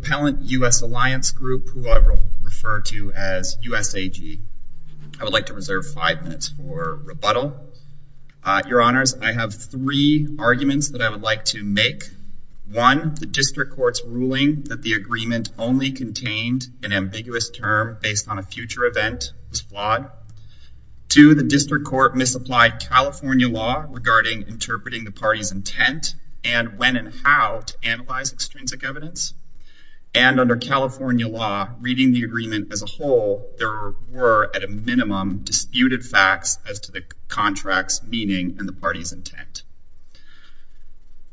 Compellent U.S. Alliance Grp, who I refer to as USAG, I would like to reserve five minutes for rebuttal. Your Honors, I have three arguments that I would like to make. One, the District Court's ruling that the agreement only contained an ambiguous term based on a future event is flawed. Two, the District Court misapplied California law regarding interpreting the party's intent and when and how to analyze extrinsic evidence. And under California law, reading the agreement as a whole, there were, at a minimum, disputed facts as to the contract's meaning and the party's intent.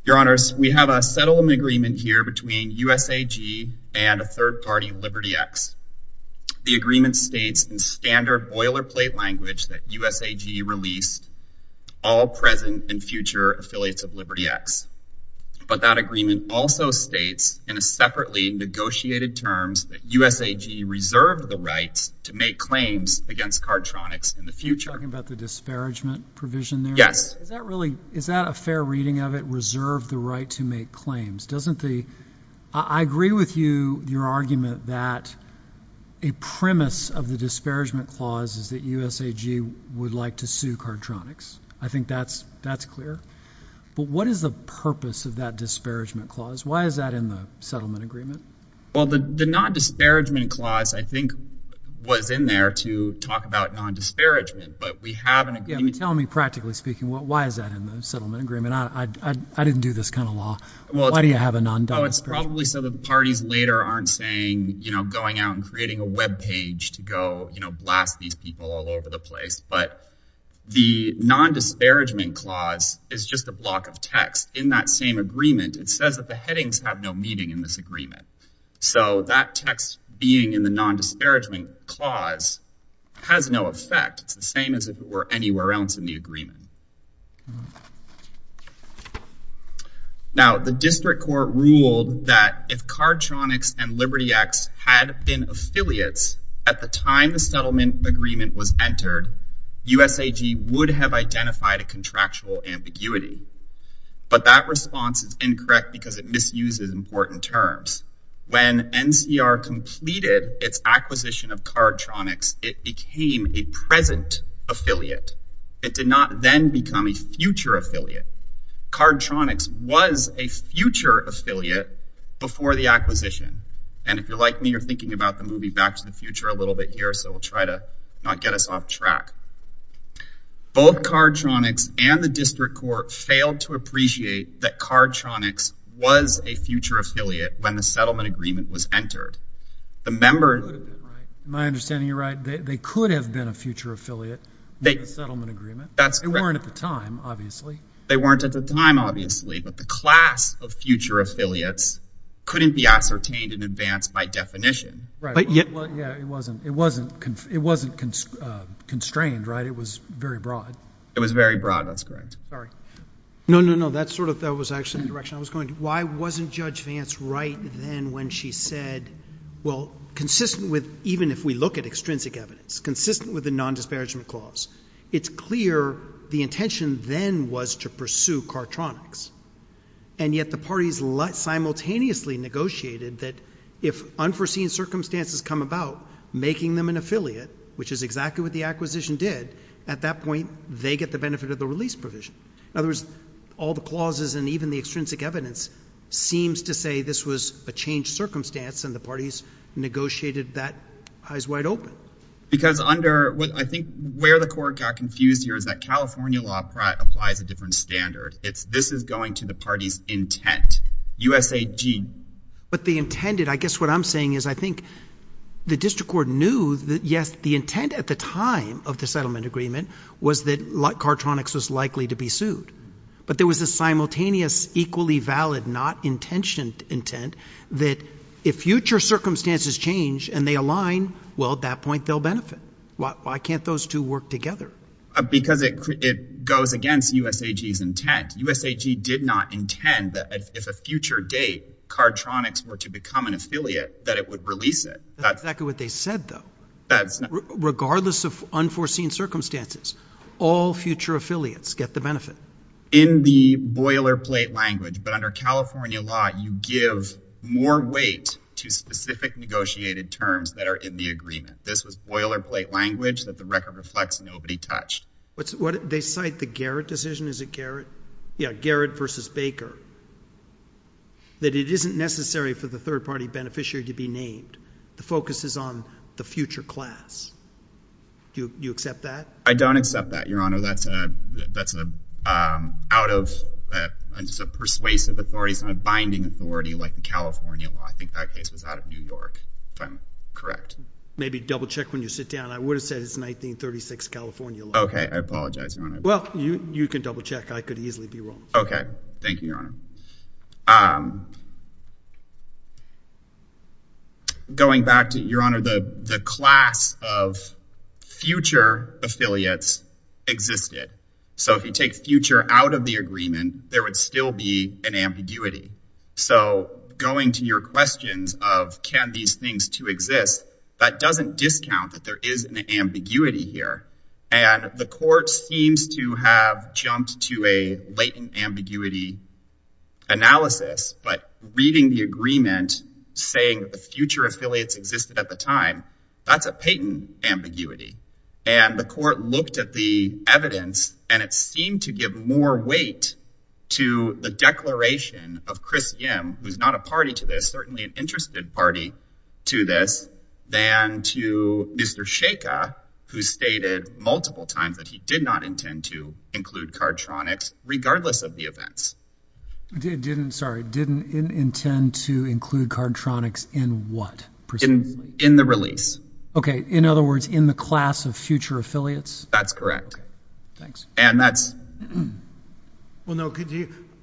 Your Honors, we have a settlement agreement here between USAG and a third party, LibertyX. The agreement states in standard boilerplate language that USAG release all present and But that agreement also states in a separately negotiated terms that USAG reserve the right to make claims against Cardtronics in the future. You're talking about the disparagement provision there? Yes. Is that a fair reading of it, reserve the right to make claims? I agree with you, your argument, that a premise of the disparagement clause is that USAG would like to sue Cardtronics. I think that's clear. But what is the purpose of that disparagement clause? Why is that in the settlement agreement? Well, the non-disparagement clause, I think, was in there to talk about non-disparagement, but we have an agreement. Tell me, practically speaking, why is that in the settlement agreement? I didn't do this kind of law. Why do you have a non-disparagement clause? Well, it's probably so that parties later aren't saying, you know, going out and creating a webpage to go, you know, blast these people all over the place. But the non-disparagement clause is just a block of text. In that same agreement, it says that the headings have no meaning in this agreement. So that text being in the non-disparagement clause has no effect. It's the same as if it were anywhere else in the agreement. Now the district court ruled that if Cardtronics and Liberty X had been affiliates at the time the settlement agreement was entered, USAG would have identified a contractual ambiguity. But that response is incorrect because it misuses important terms. When NCR completed its acquisition of Cardtronics, it became a present affiliate. It did not then become a future affiliate. Cardtronics was a future affiliate before the acquisition. And if you're like me, you're thinking about the movie Back to the Future a little bit here so we'll try to not get us off track. Both Cardtronics and the district court failed to appreciate that Cardtronics was a future affiliate when the settlement agreement was entered. The member... Am I understanding you right? They could have been a future affiliate in the settlement agreement. That's correct. They weren't at the time, obviously. They weren't at the time, obviously, but the class of future affiliates couldn't be ascertained in advance by definition. Right. Yeah, it wasn't, it wasn't, it wasn't constrained, right? It was very broad. It was very broad. That's correct. Sorry. No, no, no. That sort of, that was actually the direction I was going. Why wasn't Judge Vance right then when she said, well, consistent with, even if we look at extrinsic evidence, consistent with the non-disparagement clause, it's clear the intention then was to pursue Cardtronics. And yet the parties simultaneously negotiated that if unforeseen circumstances come about, making them an affiliate, which is exactly what the acquisition did, at that point, they get the benefit of the release provision. In other words, all the clauses and even the extrinsic evidence seems to say this was a changed circumstance and the parties negotiated that eyes wide open. Because under, I think where the court got confused here is that California law applies a different standard. It's, this is going to the party's intent, USAG. But the intended, I guess what I'm saying is I think the district court knew that, yes, the intent at the time of the settlement agreement was that Cardtronics was likely to be sued. But there was a simultaneous, equally valid, not intentioned intent that if future circumstances change and they align, well, at that point, they'll benefit. Why can't those two work together? Because it goes against USAG's intent. USAG did not intend that if a future date Cardtronics were to become an affiliate, that it would release it. That's exactly what they said, though. Regardless of unforeseen circumstances, all future affiliates get the benefit. In the boilerplate language. But under California law, you give more weight to specific negotiated terms that are in the agreement. This was boilerplate language that the record reflects nobody touched. What's, what, they cite the Garrett decision. Is it Garrett? Yeah, Garrett versus Baker. That it isn't necessary for the third party beneficiary to be named. The focus is on the future class. Do you accept that? I don't accept that, Your Honor. That's a, that's a, um, out of, uh, it's a persuasive authority. It's not a binding authority like the California law. I think that case was out of New York, if I'm correct. Maybe double check when you sit down. I would have said it's 1936 California law. I apologize, Your Honor. Well, you, you can double check. I could easily be wrong. Okay. Thank you, Your Honor. Um, going back to, Your Honor, the, the class of future affiliates existed. So if you take future out of the agreement, there would still be an ambiguity. So going to your questions of, can these things to exist? That doesn't discount that there is an ambiguity here. And the court seems to have jumped to a latent ambiguity analysis. But reading the agreement saying the future affiliates existed at the time, that's a patent ambiguity. And the court looked at the evidence and it seemed to give more weight to the declaration of Chris Yim, who's not a party to this, certainly an interested party to this, than to Mr. Sheikha, who stated multiple times that he did not intend to include cardtronics, regardless of the events. Sorry, didn't intend to include cardtronics in what? In the release. Okay. In other words, in the class of future affiliates? That's correct. Thanks. And that's. Well, no,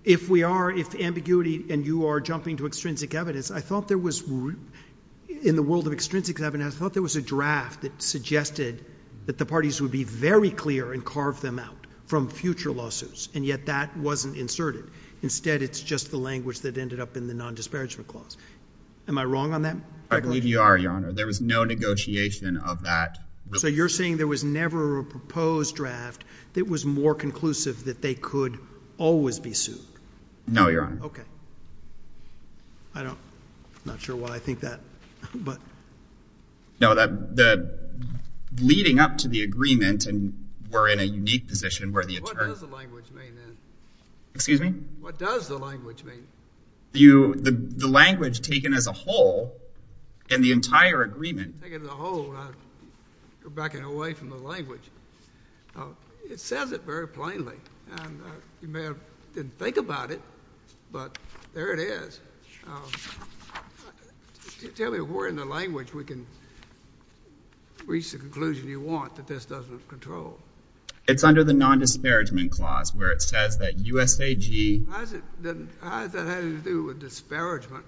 if we are, if ambiguity and you are jumping to extrinsic evidence, I thought there was, in the world of extrinsic evidence, I thought there was a draft that suggested that the parties would be very clear and carve them out from future lawsuits. And yet that wasn't inserted. Instead, it's just the language that ended up in the non-disparagement clause. Am I wrong on that? I believe you are, Your Honor. There was no negotiation of that. So you're saying there was never a proposed draft that was more conclusive that they could always be sued? No, Your Honor. Okay. I don't, I'm not sure why I think that, but. No, that, that leading up to the agreement and we're in a unique position where the attorney. What does the language mean then? Excuse me? What does the language mean? You, the language taken as a whole in the entire agreement. Taken as a whole, I'm backing away from the language. It says it very plainly and you may have didn't think about it, but there it is. Tell me where in the language we can reach the conclusion you want that this doesn't control. It's under the non-disparagement clause where it says that USAG. How does it, how does that have anything to do with disparagement?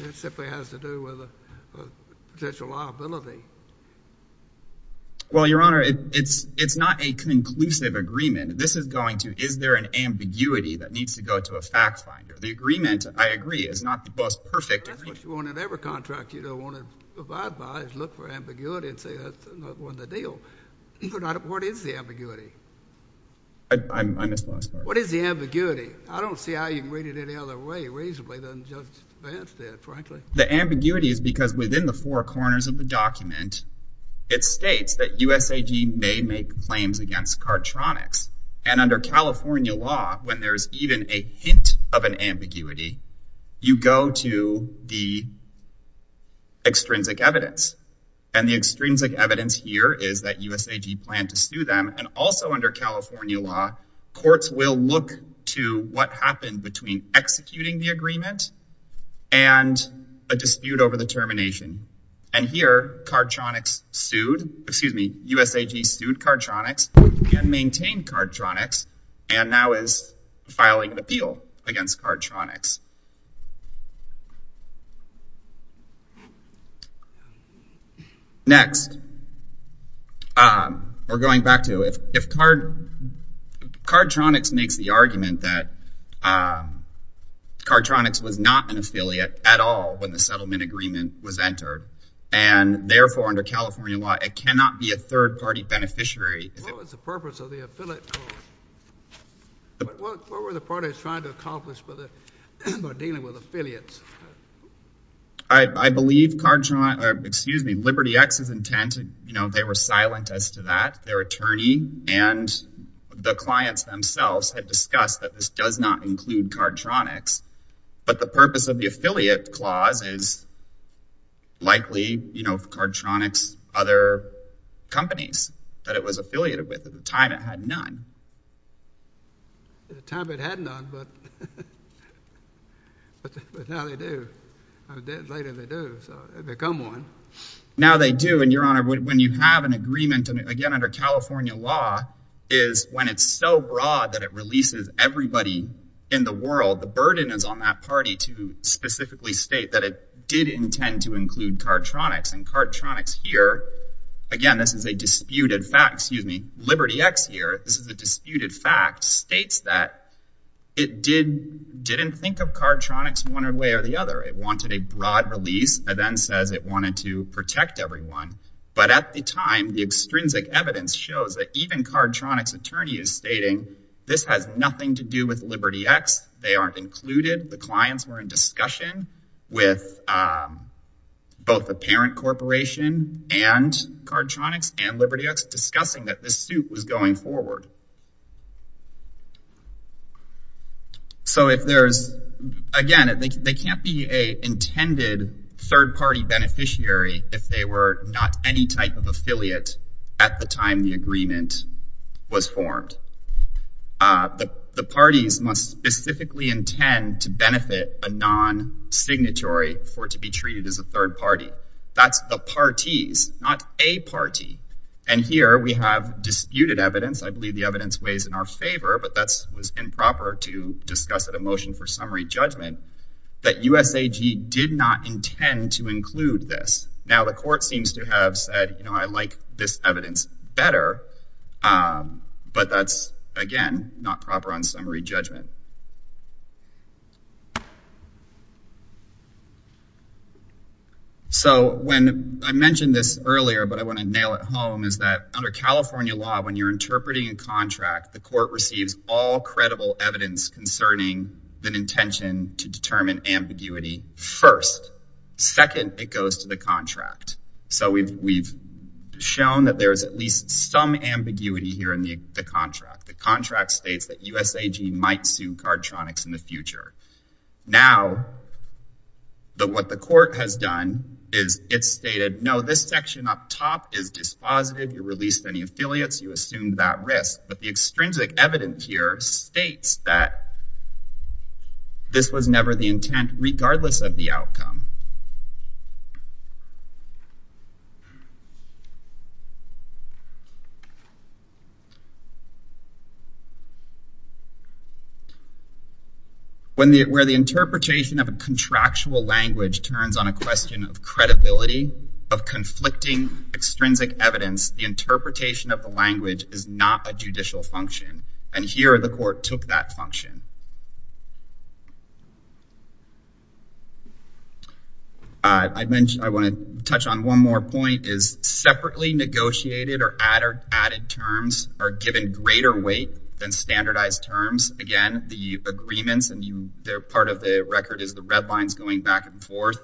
It simply has to do with a potential liability. Well, Your Honor, it's, it's not a conclusive agreement. This is going to, is there an ambiguity that needs to go to a fact finder? The agreement, I agree, is not the most perfect. That's what you want in every contract you don't want to abide by, is look for ambiguity and say that's not the deal. What is the ambiguity? I missed the last part. What is the ambiguity? I don't see how you can read it any other way reasonably than Judge Vance did, frankly. The ambiguity is because within the four corners of the document, it states that USAG may make claims against Cartronics. And under California law, when there's even a hint of an ambiguity, you go to the extrinsic evidence. And the extrinsic evidence here is that USAG planned to sue them. And also under California law, courts will look to what happened between executing the agreement and a dispute over the termination. And here Cartronics sued, excuse me, USAG sued Cartronics and maintained Cartronics and now is filing an appeal against Cartronics. Next, we're going back to, if Cartronics makes the argument that Cartronics was not an affiliate at all when the settlement agreement was entered and therefore under California law, it cannot be a third-party beneficiary. What was the purpose of the affiliate clause? What were the parties trying to accomplish with it? By dealing with affiliates. I believe Cartronics, excuse me, Liberty X's intent, you know, they were silent as to that. Their attorney and the clients themselves had discussed that this does not include Cartronics. But the purpose of the affiliate clause is likely, you know, Cartronics, other companies that it was affiliated with. At the time, it had none. But now they do. Later they do. So they've become one. Now they do. And your honor, when you have an agreement, again, under California law, is when it's so broad that it releases everybody in the world, the burden is on that party to specifically state that it did intend to include Cartronics. And Cartronics here, again, this is a disputed fact, excuse me, Liberty X here, this is a disputed fact. The disputed fact states that it didn't think of Cartronics one way or the other. It wanted a broad release. It then says it wanted to protect everyone. But at the time, the extrinsic evidence shows that even Cartronics attorney is stating this has nothing to do with Liberty X. They aren't included. The clients were in discussion with both the parent corporation and Cartronics and Liberty X discussing that this suit was going forward. So if there's, again, they can't be a intended third party beneficiary if they were not any type of affiliate at the time the agreement was formed. The parties must specifically intend to benefit a non-signatory for it to be treated as a third party. That's the parties, not a party. And here we have disputed evidence. I believe the evidence weighs in our favor, but that was improper to discuss at a motion for summary judgment that USAG did not intend to include this. Now, the court seems to have said, you know, I like this evidence better. But that's, again, not proper on summary judgment. So when I mentioned this earlier, but I want to nail it home is that under California law, when you're interpreting a contract, the court receives all credible evidence concerning the intention to determine ambiguity first. Second, it goes to the contract. So we've shown that there's at least some ambiguity here in the contract. The contract states that USAG might sue Cartronics in the future. Now, what the court has done is it stated, no, this section up top is dispositive. You released any affiliates, you assumed that risk. But the extrinsic evidence here states that this was never the intent, regardless of the outcome. Where the interpretation of a contractual language turns on a question of credibility, of conflicting extrinsic evidence, the interpretation of the language is not a judicial function. And here, the court took that function. I want to touch on one more point is separately negotiated or added terms are given greater weight than standardized terms. Again, the agreements, and part of the record is the red lines going back and forth.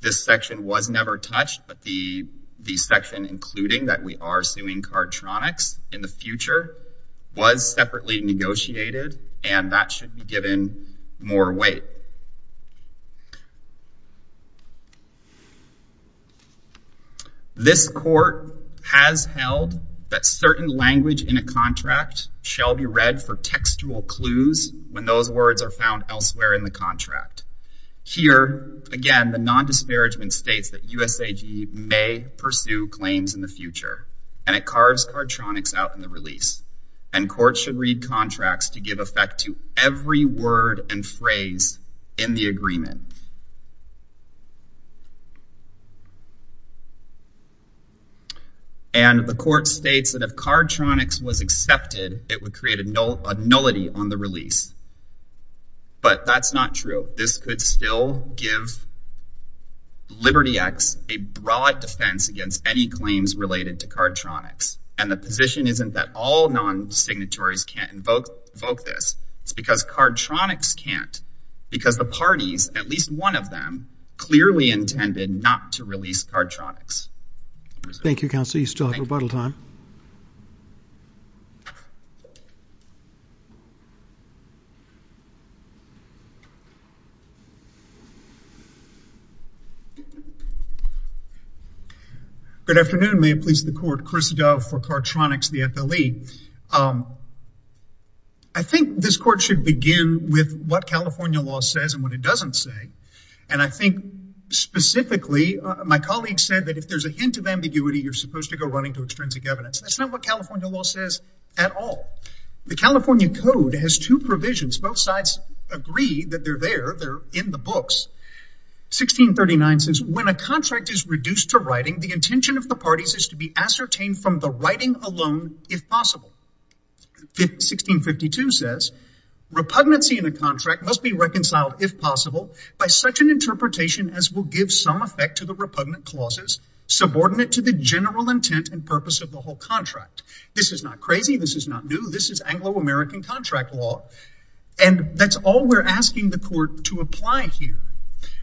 This section was never touched, but the section, including that we are suing Cartronics in the future, was separately negotiated, and that should be given more weight. This court has held that certain language in a contract shall be read for textual clues when those words are found elsewhere in the contract. Here, again, the non-disparagement states that USAG may pursue claims in the future, and it carves Cartronics out in the release. And courts should read contracts to give effect to every word and phrase in the agreement. And the court states that if Cartronics was accepted, it would create a nullity on the release. But that's not true. This could still give Liberty X a broad defense against any claims related to Cartronics. And the position isn't that all non-signatories can't invoke this. It's because Cartronics can't, because the parties, at least one of them, clearly intended not to release Cartronics. Thank you, counsel. You still have rebuttal time. Good afternoon. May it please the court. Chris Dove for Cartronics, the FLE. I think this court should begin with what California law says and what it doesn't say. And I think, specifically, my colleague said that if there's a hint of ambiguity, you're supposed to go running to extrinsic evidence. That's not what California law says at all. The California Code has two provisions. Both sides agree that they're there. They're in the books. 1639 says, when a contract is reduced to writing, the intention of the parties is to be ascertained from the writing alone, if possible. 1652 says, repugnancy in a contract must be reconciled, if possible, by such an interpretation as will give some effect to the repugnant clauses, subordinate to the general intent and purpose of the whole contract. This is not crazy. This is not new. This is Anglo-American contract law. And that's all we're asking the court to apply here.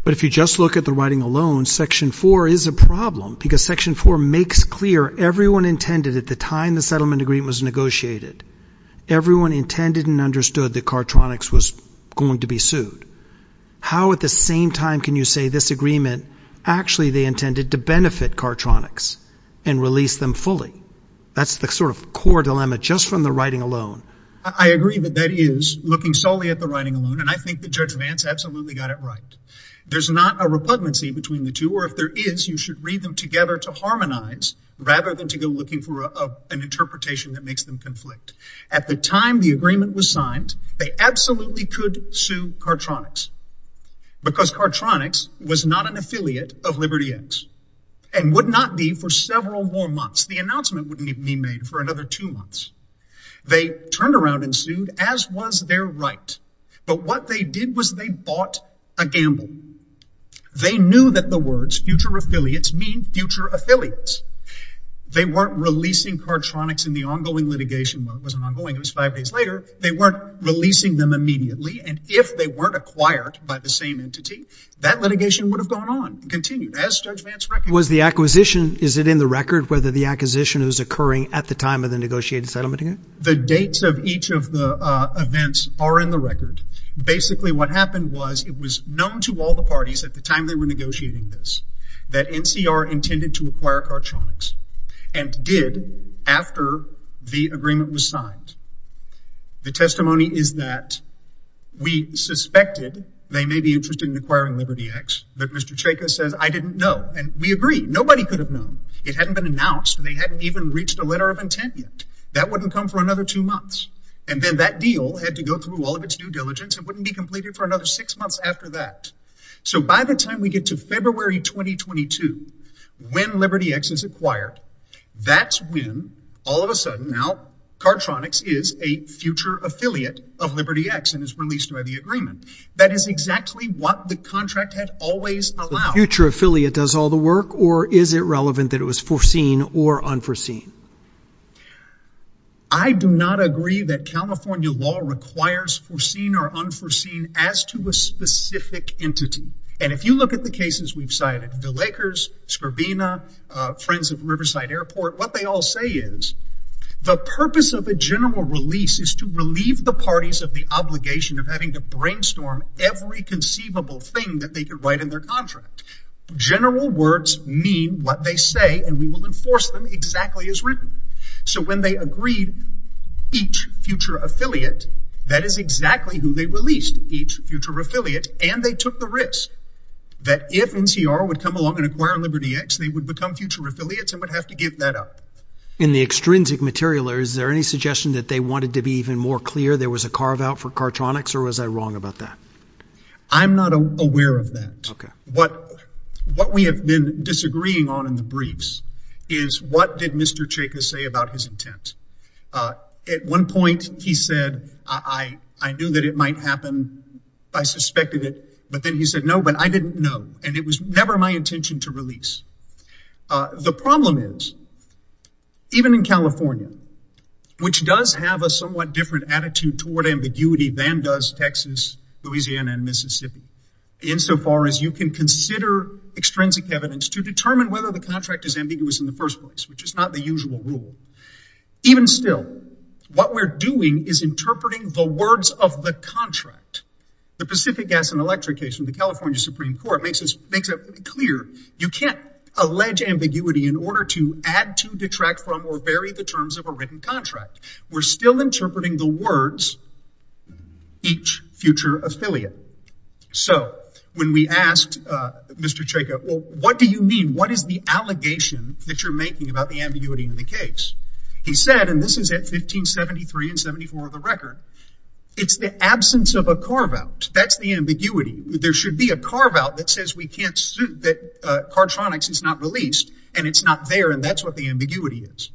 But if you just look at the writing alone, Section 4 is a problem, because Section 4 makes clear everyone intended at the time the settlement agreement was negotiated, everyone intended and understood that Cartronics was going to be sued. How, at the same time, can you say this agreement, actually, they intended to benefit Cartronics and release them fully? That's the sort of core dilemma just from the writing alone. I agree that that is looking solely at the writing alone. And I think that Judge Vance absolutely got it right. There's not a repugnancy between the two. Or if there is, you should read them together to harmonize, rather than to go looking for an interpretation that makes them conflict. At the time the agreement was signed, they absolutely could sue Cartronics, because Cartronics was not an affiliate of Liberty X, and would not be for several more months. The announcement wouldn't even be made for another two months. They turned around and sued, as was their right. But what they did was they bought a gamble. They knew that the words future affiliates mean future affiliates. They weren't releasing Cartronics in the ongoing litigation. Well, it wasn't ongoing. It was five days later. They weren't releasing them immediately. And if they weren't acquired by the same entity, that litigation would have gone on and continued, as Judge Vance reckoned. Was the acquisition, is it in the record, whether the acquisition is occurring at the time of the negotiated settlement? The dates of each of the events are in the record. Basically, what happened was it was known to all the parties at the time they were negotiating this, that NCR intended to acquire Cartronics, and did after the agreement was signed. The testimony is that we suspected they may be interested in acquiring LibertyX, but Mr. Chayka says, I didn't know. And we agree. Nobody could have known. It hadn't been announced. They hadn't even reached a letter of intent yet. That wouldn't come for another two months. And then that deal had to go through all of its due diligence. It wouldn't be completed for another six months after that. So by the time we get to February 2022, when LibertyX is acquired, that's when, all of a sudden now, Cartronics is a future affiliate of LibertyX and is released by the agreement. That is exactly what the contract had always allowed. The future affiliate does all the work, or is it relevant that it was foreseen or unforeseen? I do not agree that California law requires foreseen or unforeseen as to a specific entity. And if you look at the cases we've cited, the Lakers, Scribina, Friends of Riverside Airport, what they all say is, the purpose of a general release is to relieve the parties of the obligation of having to brainstorm every conceivable thing that they could write in their contract. General words mean what they say, and we will enforce them exactly as written. So when they agreed each future affiliate, that is exactly who they released, each future affiliate. And they took the risk that if NCR would come along and acquire LibertyX, they would become future affiliates and would have to give that up. In the extrinsic material, is there any suggestion that they wanted to be even more clear there was a carve-out for Cartronics, or was I wrong about that? I'm not aware of that. What we have been disagreeing on in the briefs is, what did Mr. Chayka say about his intent? At one point, he said, I knew that it might happen. I suspected it. But then he said, no, but I didn't know. And it was never my intention to release. The problem is, even in California, which does have a somewhat different attitude toward ambiguity than does Texas, Louisiana, and Mississippi, insofar as you can consider extrinsic evidence to determine whether the contract is ambiguous in the first place, which is not the usual rule. Even still, what we're doing is interpreting the words of the contract. The Pacific Gas and Electric case from the California Supreme Court makes it clear you can't allege ambiguity in order to add to, detract from, or vary the terms of a written contract. We're still interpreting the words, each future affiliate. So when we asked Mr. Chayka, well, what do you mean? What is the allegation that you're making about the ambiguity in the case? He said, and this is at 1573 and 74 of the record, it's the absence of a carve-out. That's the ambiguity. There should be a carve-out that says we can't suit that cardtronics is not released, and it's not there. And that's what the ambiguity is.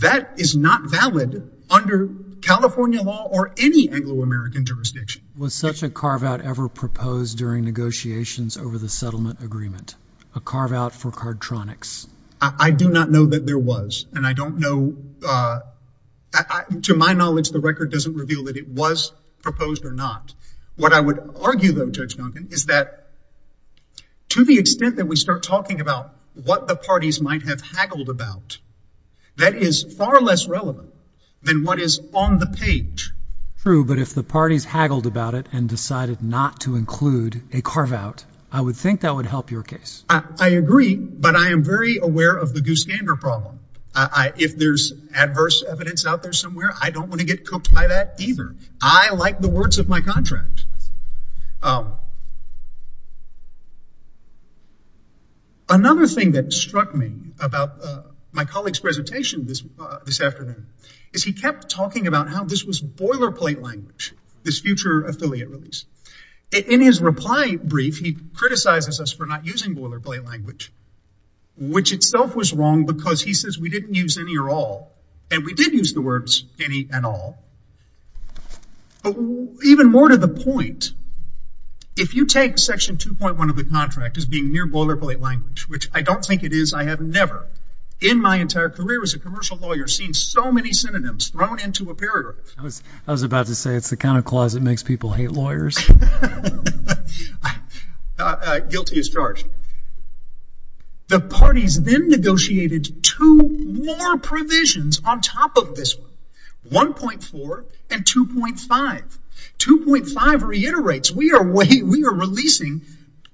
That is not valid under California law or any Anglo-American jurisdiction. Was such a carve-out ever proposed during negotiations over the settlement agreement? A carve-out for cardtronics? I do not know that there was. And I don't know, to my knowledge, the record doesn't reveal that it was proposed or not. What I would argue, though, Judge Duncan, is that to the extent that we start talking about what the parties might have haggled about, that is far less relevant than what is on the page. True. But if the parties haggled about it and decided not to include a carve-out, I would think that would help your case. I agree. But I am very aware of the goose gander problem. If there's adverse evidence out there somewhere, I don't want to get cooked by that either. I like the words of my contract. Another thing that struck me about my colleague's presentation this afternoon is he kept talking about how this was boilerplate language, this future affiliate release. In his reply brief, he criticizes us for not using boilerplate language, which itself was wrong because he says we didn't use any or all. And we did use the words any and all. Even more to the point, if you take Section 2.1 of the contract as being near boilerplate language, which I don't think it is. I have never in my entire career as a commercial lawyer seen so many synonyms thrown into a paragraph. I was about to say it's the kind of clause that makes people hate lawyers. Guilty as charged. The parties then negotiated two more provisions on top of this one, 1.4 and 2.5. 2.5 reiterates we are releasing,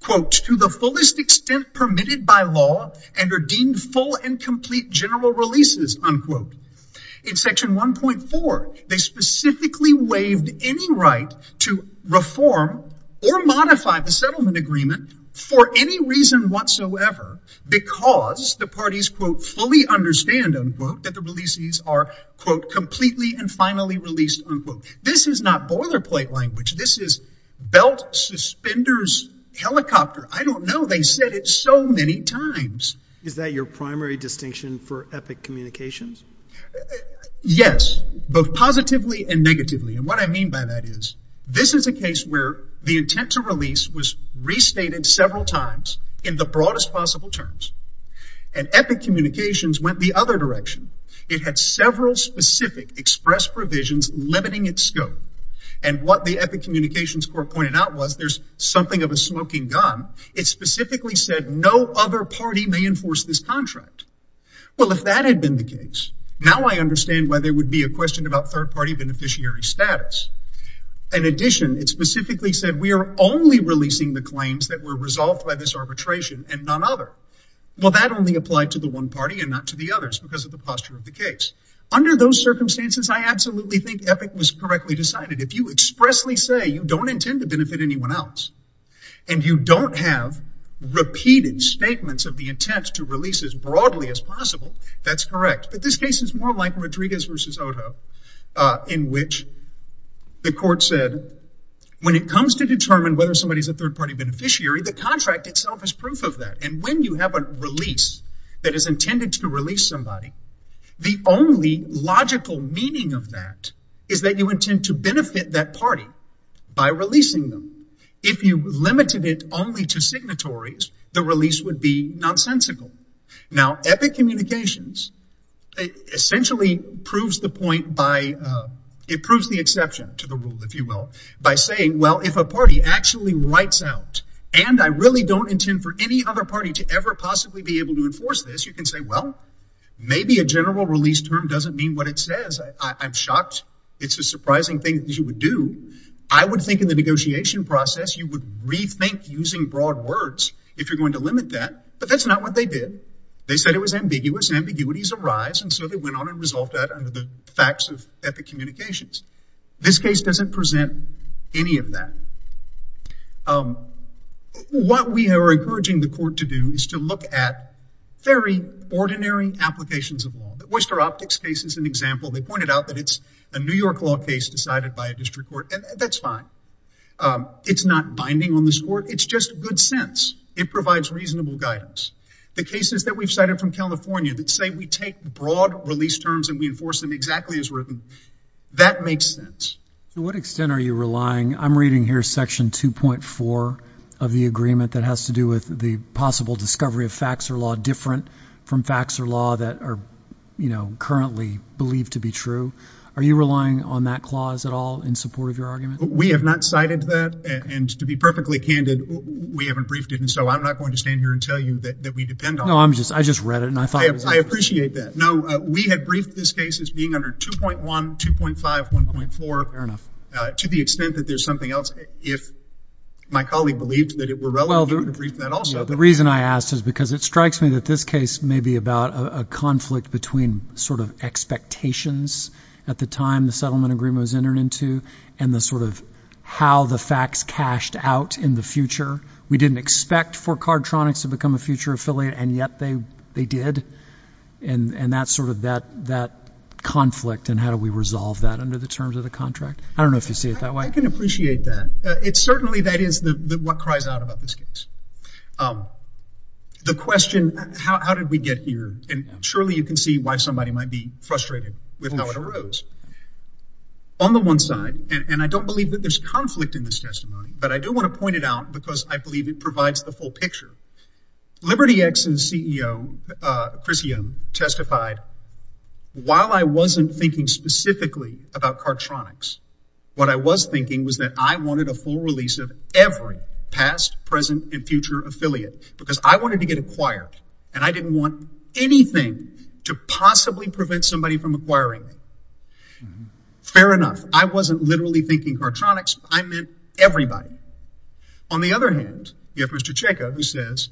quote, to the fullest extent permitted by law and are deemed full and complete general releases, unquote. In Section 1.4, they specifically waived any right to reform or modify the settlement agreement for any reason whatsoever. Because the parties, quote, fully understand, unquote, that the releases are, quote, completely and finally released, unquote. This is not boilerplate language. This is belt suspenders helicopter. I don't know. They said it so many times. Is that your primary distinction for epic communications? Yes, both positively and negatively. And what I mean by that is this is a case where the intent to release was restated several times in the broadest possible terms. And epic communications went the other direction. It had several specific express provisions limiting its scope. And what the epic communications court pointed out was there's something of a smoking gun. It specifically said no other party may enforce this contract. Well, if that had been the case, now I understand why there would be a question about third party beneficiary status. In addition, it specifically said we are only releasing the claims that were resolved by this arbitration and none other. Well, that only applied to the one party and not to the others because of the posture of the case. Under those circumstances, I absolutely think epic was correctly decided. If you expressly say you don't intend to benefit anyone else and you don't have repeated statements of the intent to release as broadly as possible, that's correct. But this case is more like Rodriguez versus Odo in which the court said when it comes to determine whether somebody is a third party beneficiary, the contract itself is proof of that. And when you have a release that is intended to release somebody, the only logical meaning of that is that you intend to benefit that party by releasing them. If you limited it only to signatories, the release would be nonsensical. Now, epic communications essentially proves the point by, it proves the exception to the rule, if you will, by saying, well, if a party actually writes out and I really don't intend for any other party to ever possibly be able to enforce this, you can say, well, maybe a general release term doesn't mean what it says. I'm shocked. It's a surprising thing that you would do. I would think in the negotiation process, you would rethink using broad words if you're going to limit that. But that's not what they did. They said it was ambiguous. Ambiguities arise. And so they went on and resolved that under the facts of epic communications. This case doesn't present any of that. What we are encouraging the court to do is to look at very ordinary applications of law. Oyster Optics case is an example. They pointed out that it's a New York law case decided by a district court. And that's fine. It's not binding on this court. It's just good sense. It provides reasonable guidance. The cases that we've cited from California that say we take broad release terms and we enforce them exactly as written, that makes sense. To what extent are you relying? I'm reading here section 2.4 of the agreement that has to do with the possible discovery of facts or law different from facts or law that are currently believed to be true. Are you relying on that clause at all in support of your argument? We have not cited that. And to be perfectly candid, we haven't briefed it. And so I'm not going to stand here and tell you that we depend on it. No, I just read it and I thought it was interesting. I appreciate that. No, we have briefed this case as being under 2.1, 2.5, 1.4. Fair enough. To the extent that there's something else. If my colleague believed that it were relevant, he would have briefed that also. The reason I asked is because it strikes me that this case may be about a conflict between sort of expectations at the time the settlement agreement was entered into and the sort of how the facts cashed out in the future. We didn't expect for Cardtronics to become a future affiliate, and yet they did. And that's sort of that conflict. And how do we resolve that under the terms of the contract? I don't know if you see it that way. I can appreciate that. It's certainly that is what cries out about this case. The question, how did we get here? And surely you can see why somebody might be frustrated with how it arose. On the one side, and I don't believe that there's conflict in this testimony, but I do want to point it out because I believe it provides the full picture. Liberty X's CEO, Chris Yeom, testified, while I wasn't thinking specifically about Cardtronics, what I was thinking was that I wanted a full release of every past, present, and future affiliate because I wanted to get acquired, and I didn't want anything to possibly prevent somebody from acquiring me. And fair enough. I wasn't literally thinking Cardtronics. I meant everybody. On the other hand, you have Mr. Chayka who says,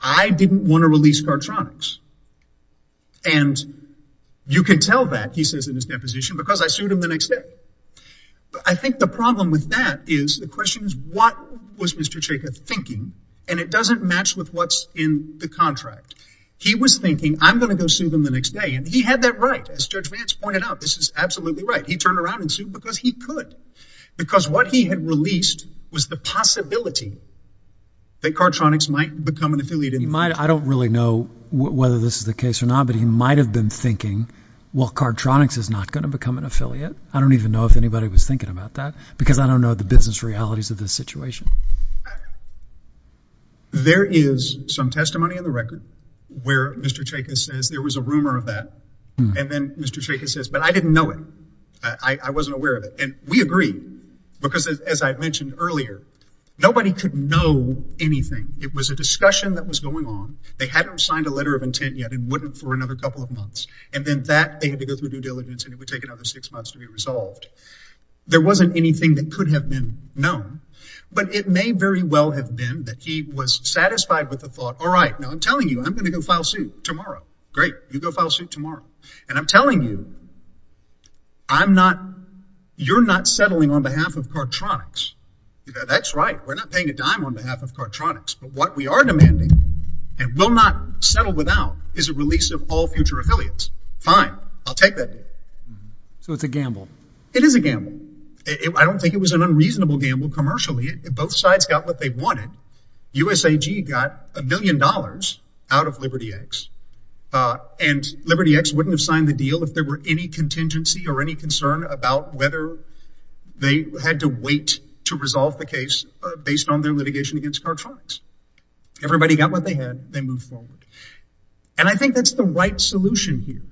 I didn't want to release Cardtronics. And you can tell that, he says in his deposition, because I sued him the next day. But I think the problem with that is the question is, what was Mr. Chayka thinking? And it doesn't match with what's in the contract. He was thinking, I'm going to go sue them the next day. He had that right. As Judge Vance pointed out, this is absolutely right. He turned around and sued because he could. Because what he had released was the possibility that Cardtronics might become an affiliate. He might. I don't really know whether this is the case or not, but he might have been thinking, well, Cardtronics is not going to become an affiliate. I don't even know if anybody was thinking about that because I don't know the business realities of this situation. There is some testimony in the record where Mr. Chayka says there was a rumor of that. And then Mr. Chayka says, but I didn't know it. I wasn't aware of it. And we agree because as I mentioned earlier, nobody could know anything. It was a discussion that was going on. They hadn't signed a letter of intent yet and wouldn't for another couple of months. And then that they had to go through due diligence and it would take another six months to be resolved. There wasn't anything that could have been known, but it may very well have been that he was satisfied with the thought. All right, now I'm telling you, I'm going to go file suit tomorrow. Great, you go file suit tomorrow. And I'm telling you, I'm not, you're not settling on behalf of Cardtronics. That's right. We're not paying a dime on behalf of Cardtronics, but what we are demanding and will not settle without is a release of all future affiliates. Fine, I'll take that. So it's a gamble. It is a gamble. I don't think it was an unreasonable gamble commercially. Both sides got what they wanted. USAG got a million dollars out of Liberty X. And Liberty X wouldn't have signed the deal if there were any contingency or any concern about whether they had to wait to resolve the case based on their litigation against Cardtronics. Everybody got what they had. They moved forward. And I think that's the right solution here.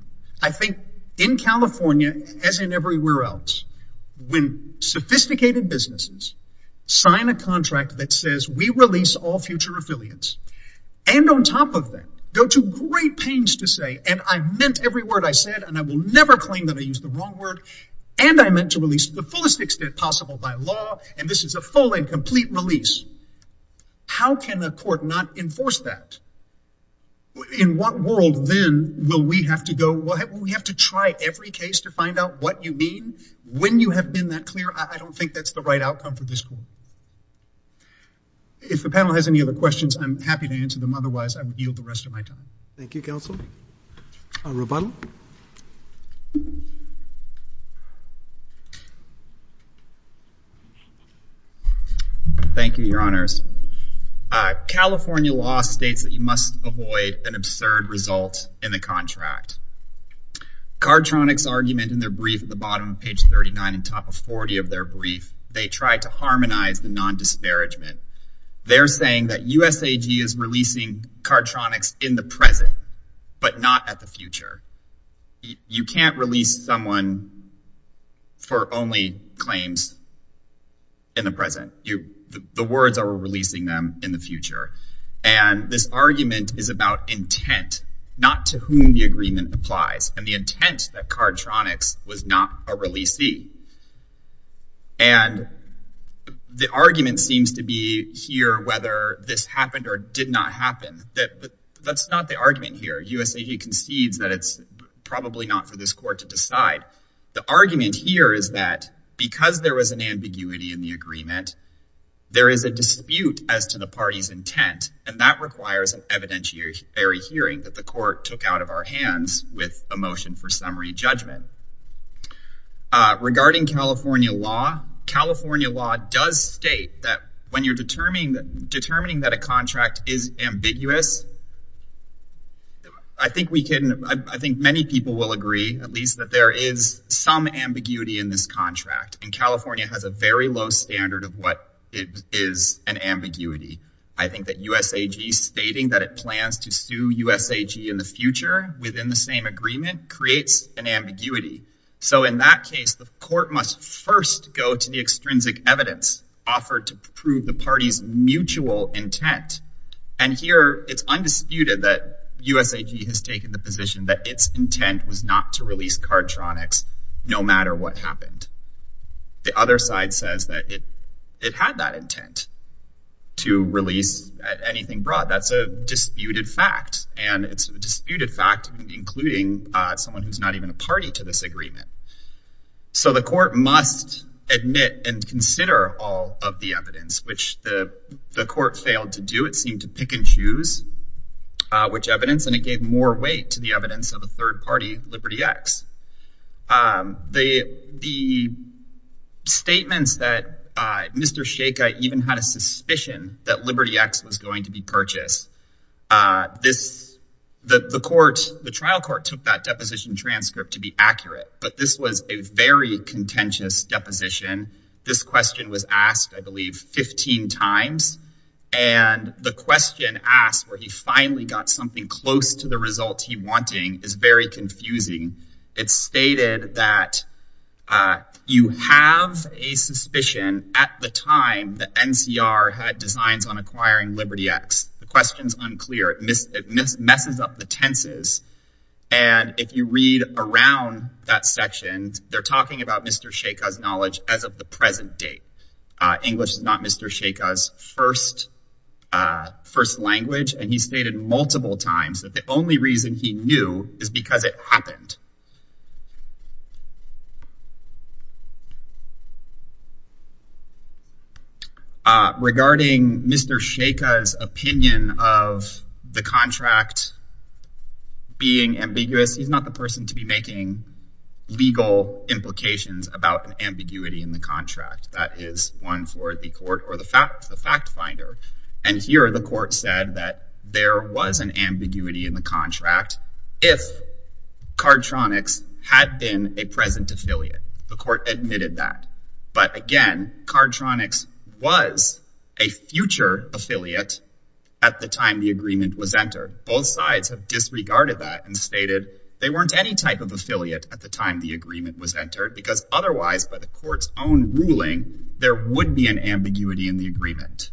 I think in California, as in everywhere else, when sophisticated businesses sign a contract that says we release all future affiliates and on top of that, go to great pains to say, and I meant every word I said, and I will never claim that I used the wrong word. And I meant to release the fullest extent possible by law. And this is a full and complete release. How can a court not enforce that? In what world then will we have to go, well, we have to try every case to find out what you mean. When you have been that clear, I don't think that's the right outcome for this court. If the panel has any other questions, I'm happy to answer them. Otherwise, I would yield the rest of my time. Thank you, counsel. Our rebuttal. Thank you, your honors. California law states that you must avoid an absurd result in the contract. Cardtronics argument in their brief at the bottom of page 39, on top of 40 of their brief, they try to harmonize the non-disparagement. They're saying that USAG is releasing Cardtronics in the present, but not at the future. You can't release someone for only claims in the present. The words are releasing them in the future. And this argument is about intent, not to whom the agreement applies. And the intent that Cardtronics was not a releasee. And the argument seems to be here, whether this happened or did not happen. That's not the argument here. USAG concedes that it's probably not for this court to decide. The argument here is that, because there was an ambiguity in the agreement, there is a dispute as to the party's intent. And that requires an evidentiary hearing that the court took out of our hands with a motion for summary judgment. Regarding California law, California law does state that, when you're determining that a contract is ambiguous, I think we can, I think many people will agree, at least that there is some ambiguity in this contract. And California has a very low standard of what it is an ambiguity. I think that USAG stating that it plans to sue USAG in the future within the same agreement, creates an ambiguity. So in that case, the court must first go to the extrinsic evidence offered to prove the party's mutual intent. And here it's undisputed that USAG has taken the position that its intent was not to release Cardtronics, no matter what happened. The other side says that it had that intent to release anything broad. That's a disputed fact. And it's a disputed fact, including someone who's not even a party to this agreement. So the court must admit and consider all of the evidence, which the court failed to do. It seemed to pick and choose which evidence, and it gave more weight to the evidence of the third party, Liberty X. The statements that Mr. Sheikha even had a suspicion that Liberty X was going to be purchased, the trial court took that deposition transcript to be accurate, but this was a very contentious deposition. This question was asked, I believe, 15 times. And the question asked where he finally got something close to the result he wanted is very confusing. It's stated that you have a suspicion at the time that NCR had designs on acquiring Liberty X. The question's unclear. It messes up the tenses. And if you read around that section, they're talking about Mr. Sheikha's knowledge as of the present date. English is not Mr. Sheikha's first language. And he stated multiple times that the only reason he knew is because it happened. Regarding Mr. Sheikha's opinion of the contract being ambiguous, he's not the person to be making legal implications about ambiguity in the contract. That is one for the court or the fact finder. And here the court said that there was an ambiguity If Cardtronics had not made the decision had been a present affiliate. The court admitted that. But again, Cardtronics was a future affiliate at the time the agreement was entered. Both sides have disregarded that and stated they weren't any type of affiliate at the time the agreement was entered because otherwise by the court's own ruling, there would be an ambiguity in the agreement.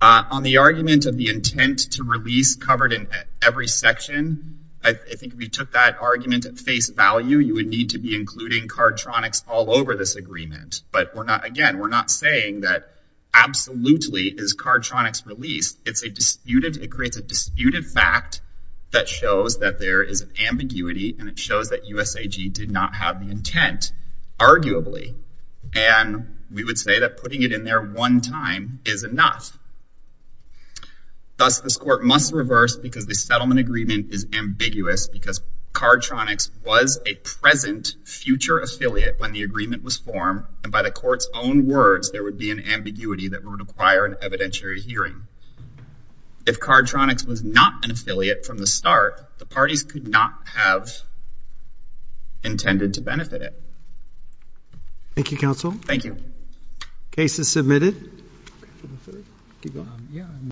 On the argument of the intent to release covered in every section, I think if we took that argument at face value, you would need to be including Cardtronics all over this agreement. But again, we're not saying that absolutely is Cardtronics released. It's a disputed, it creates a disputed fact that shows that there is an ambiguity and it shows that USAG did not have the intent, arguably. And we would say that putting it in there one time is enough. Thus, this court must reverse because the settlement agreement is ambiguous because Cardtronics was a present future affiliate when the agreement was formed. And by the court's own words, there would be an ambiguity that would require an evidentiary hearing. If Cardtronics was not an affiliate from the start, the parties could not have intended to benefit it. Thank you, counsel. Thank you. Case is submitted.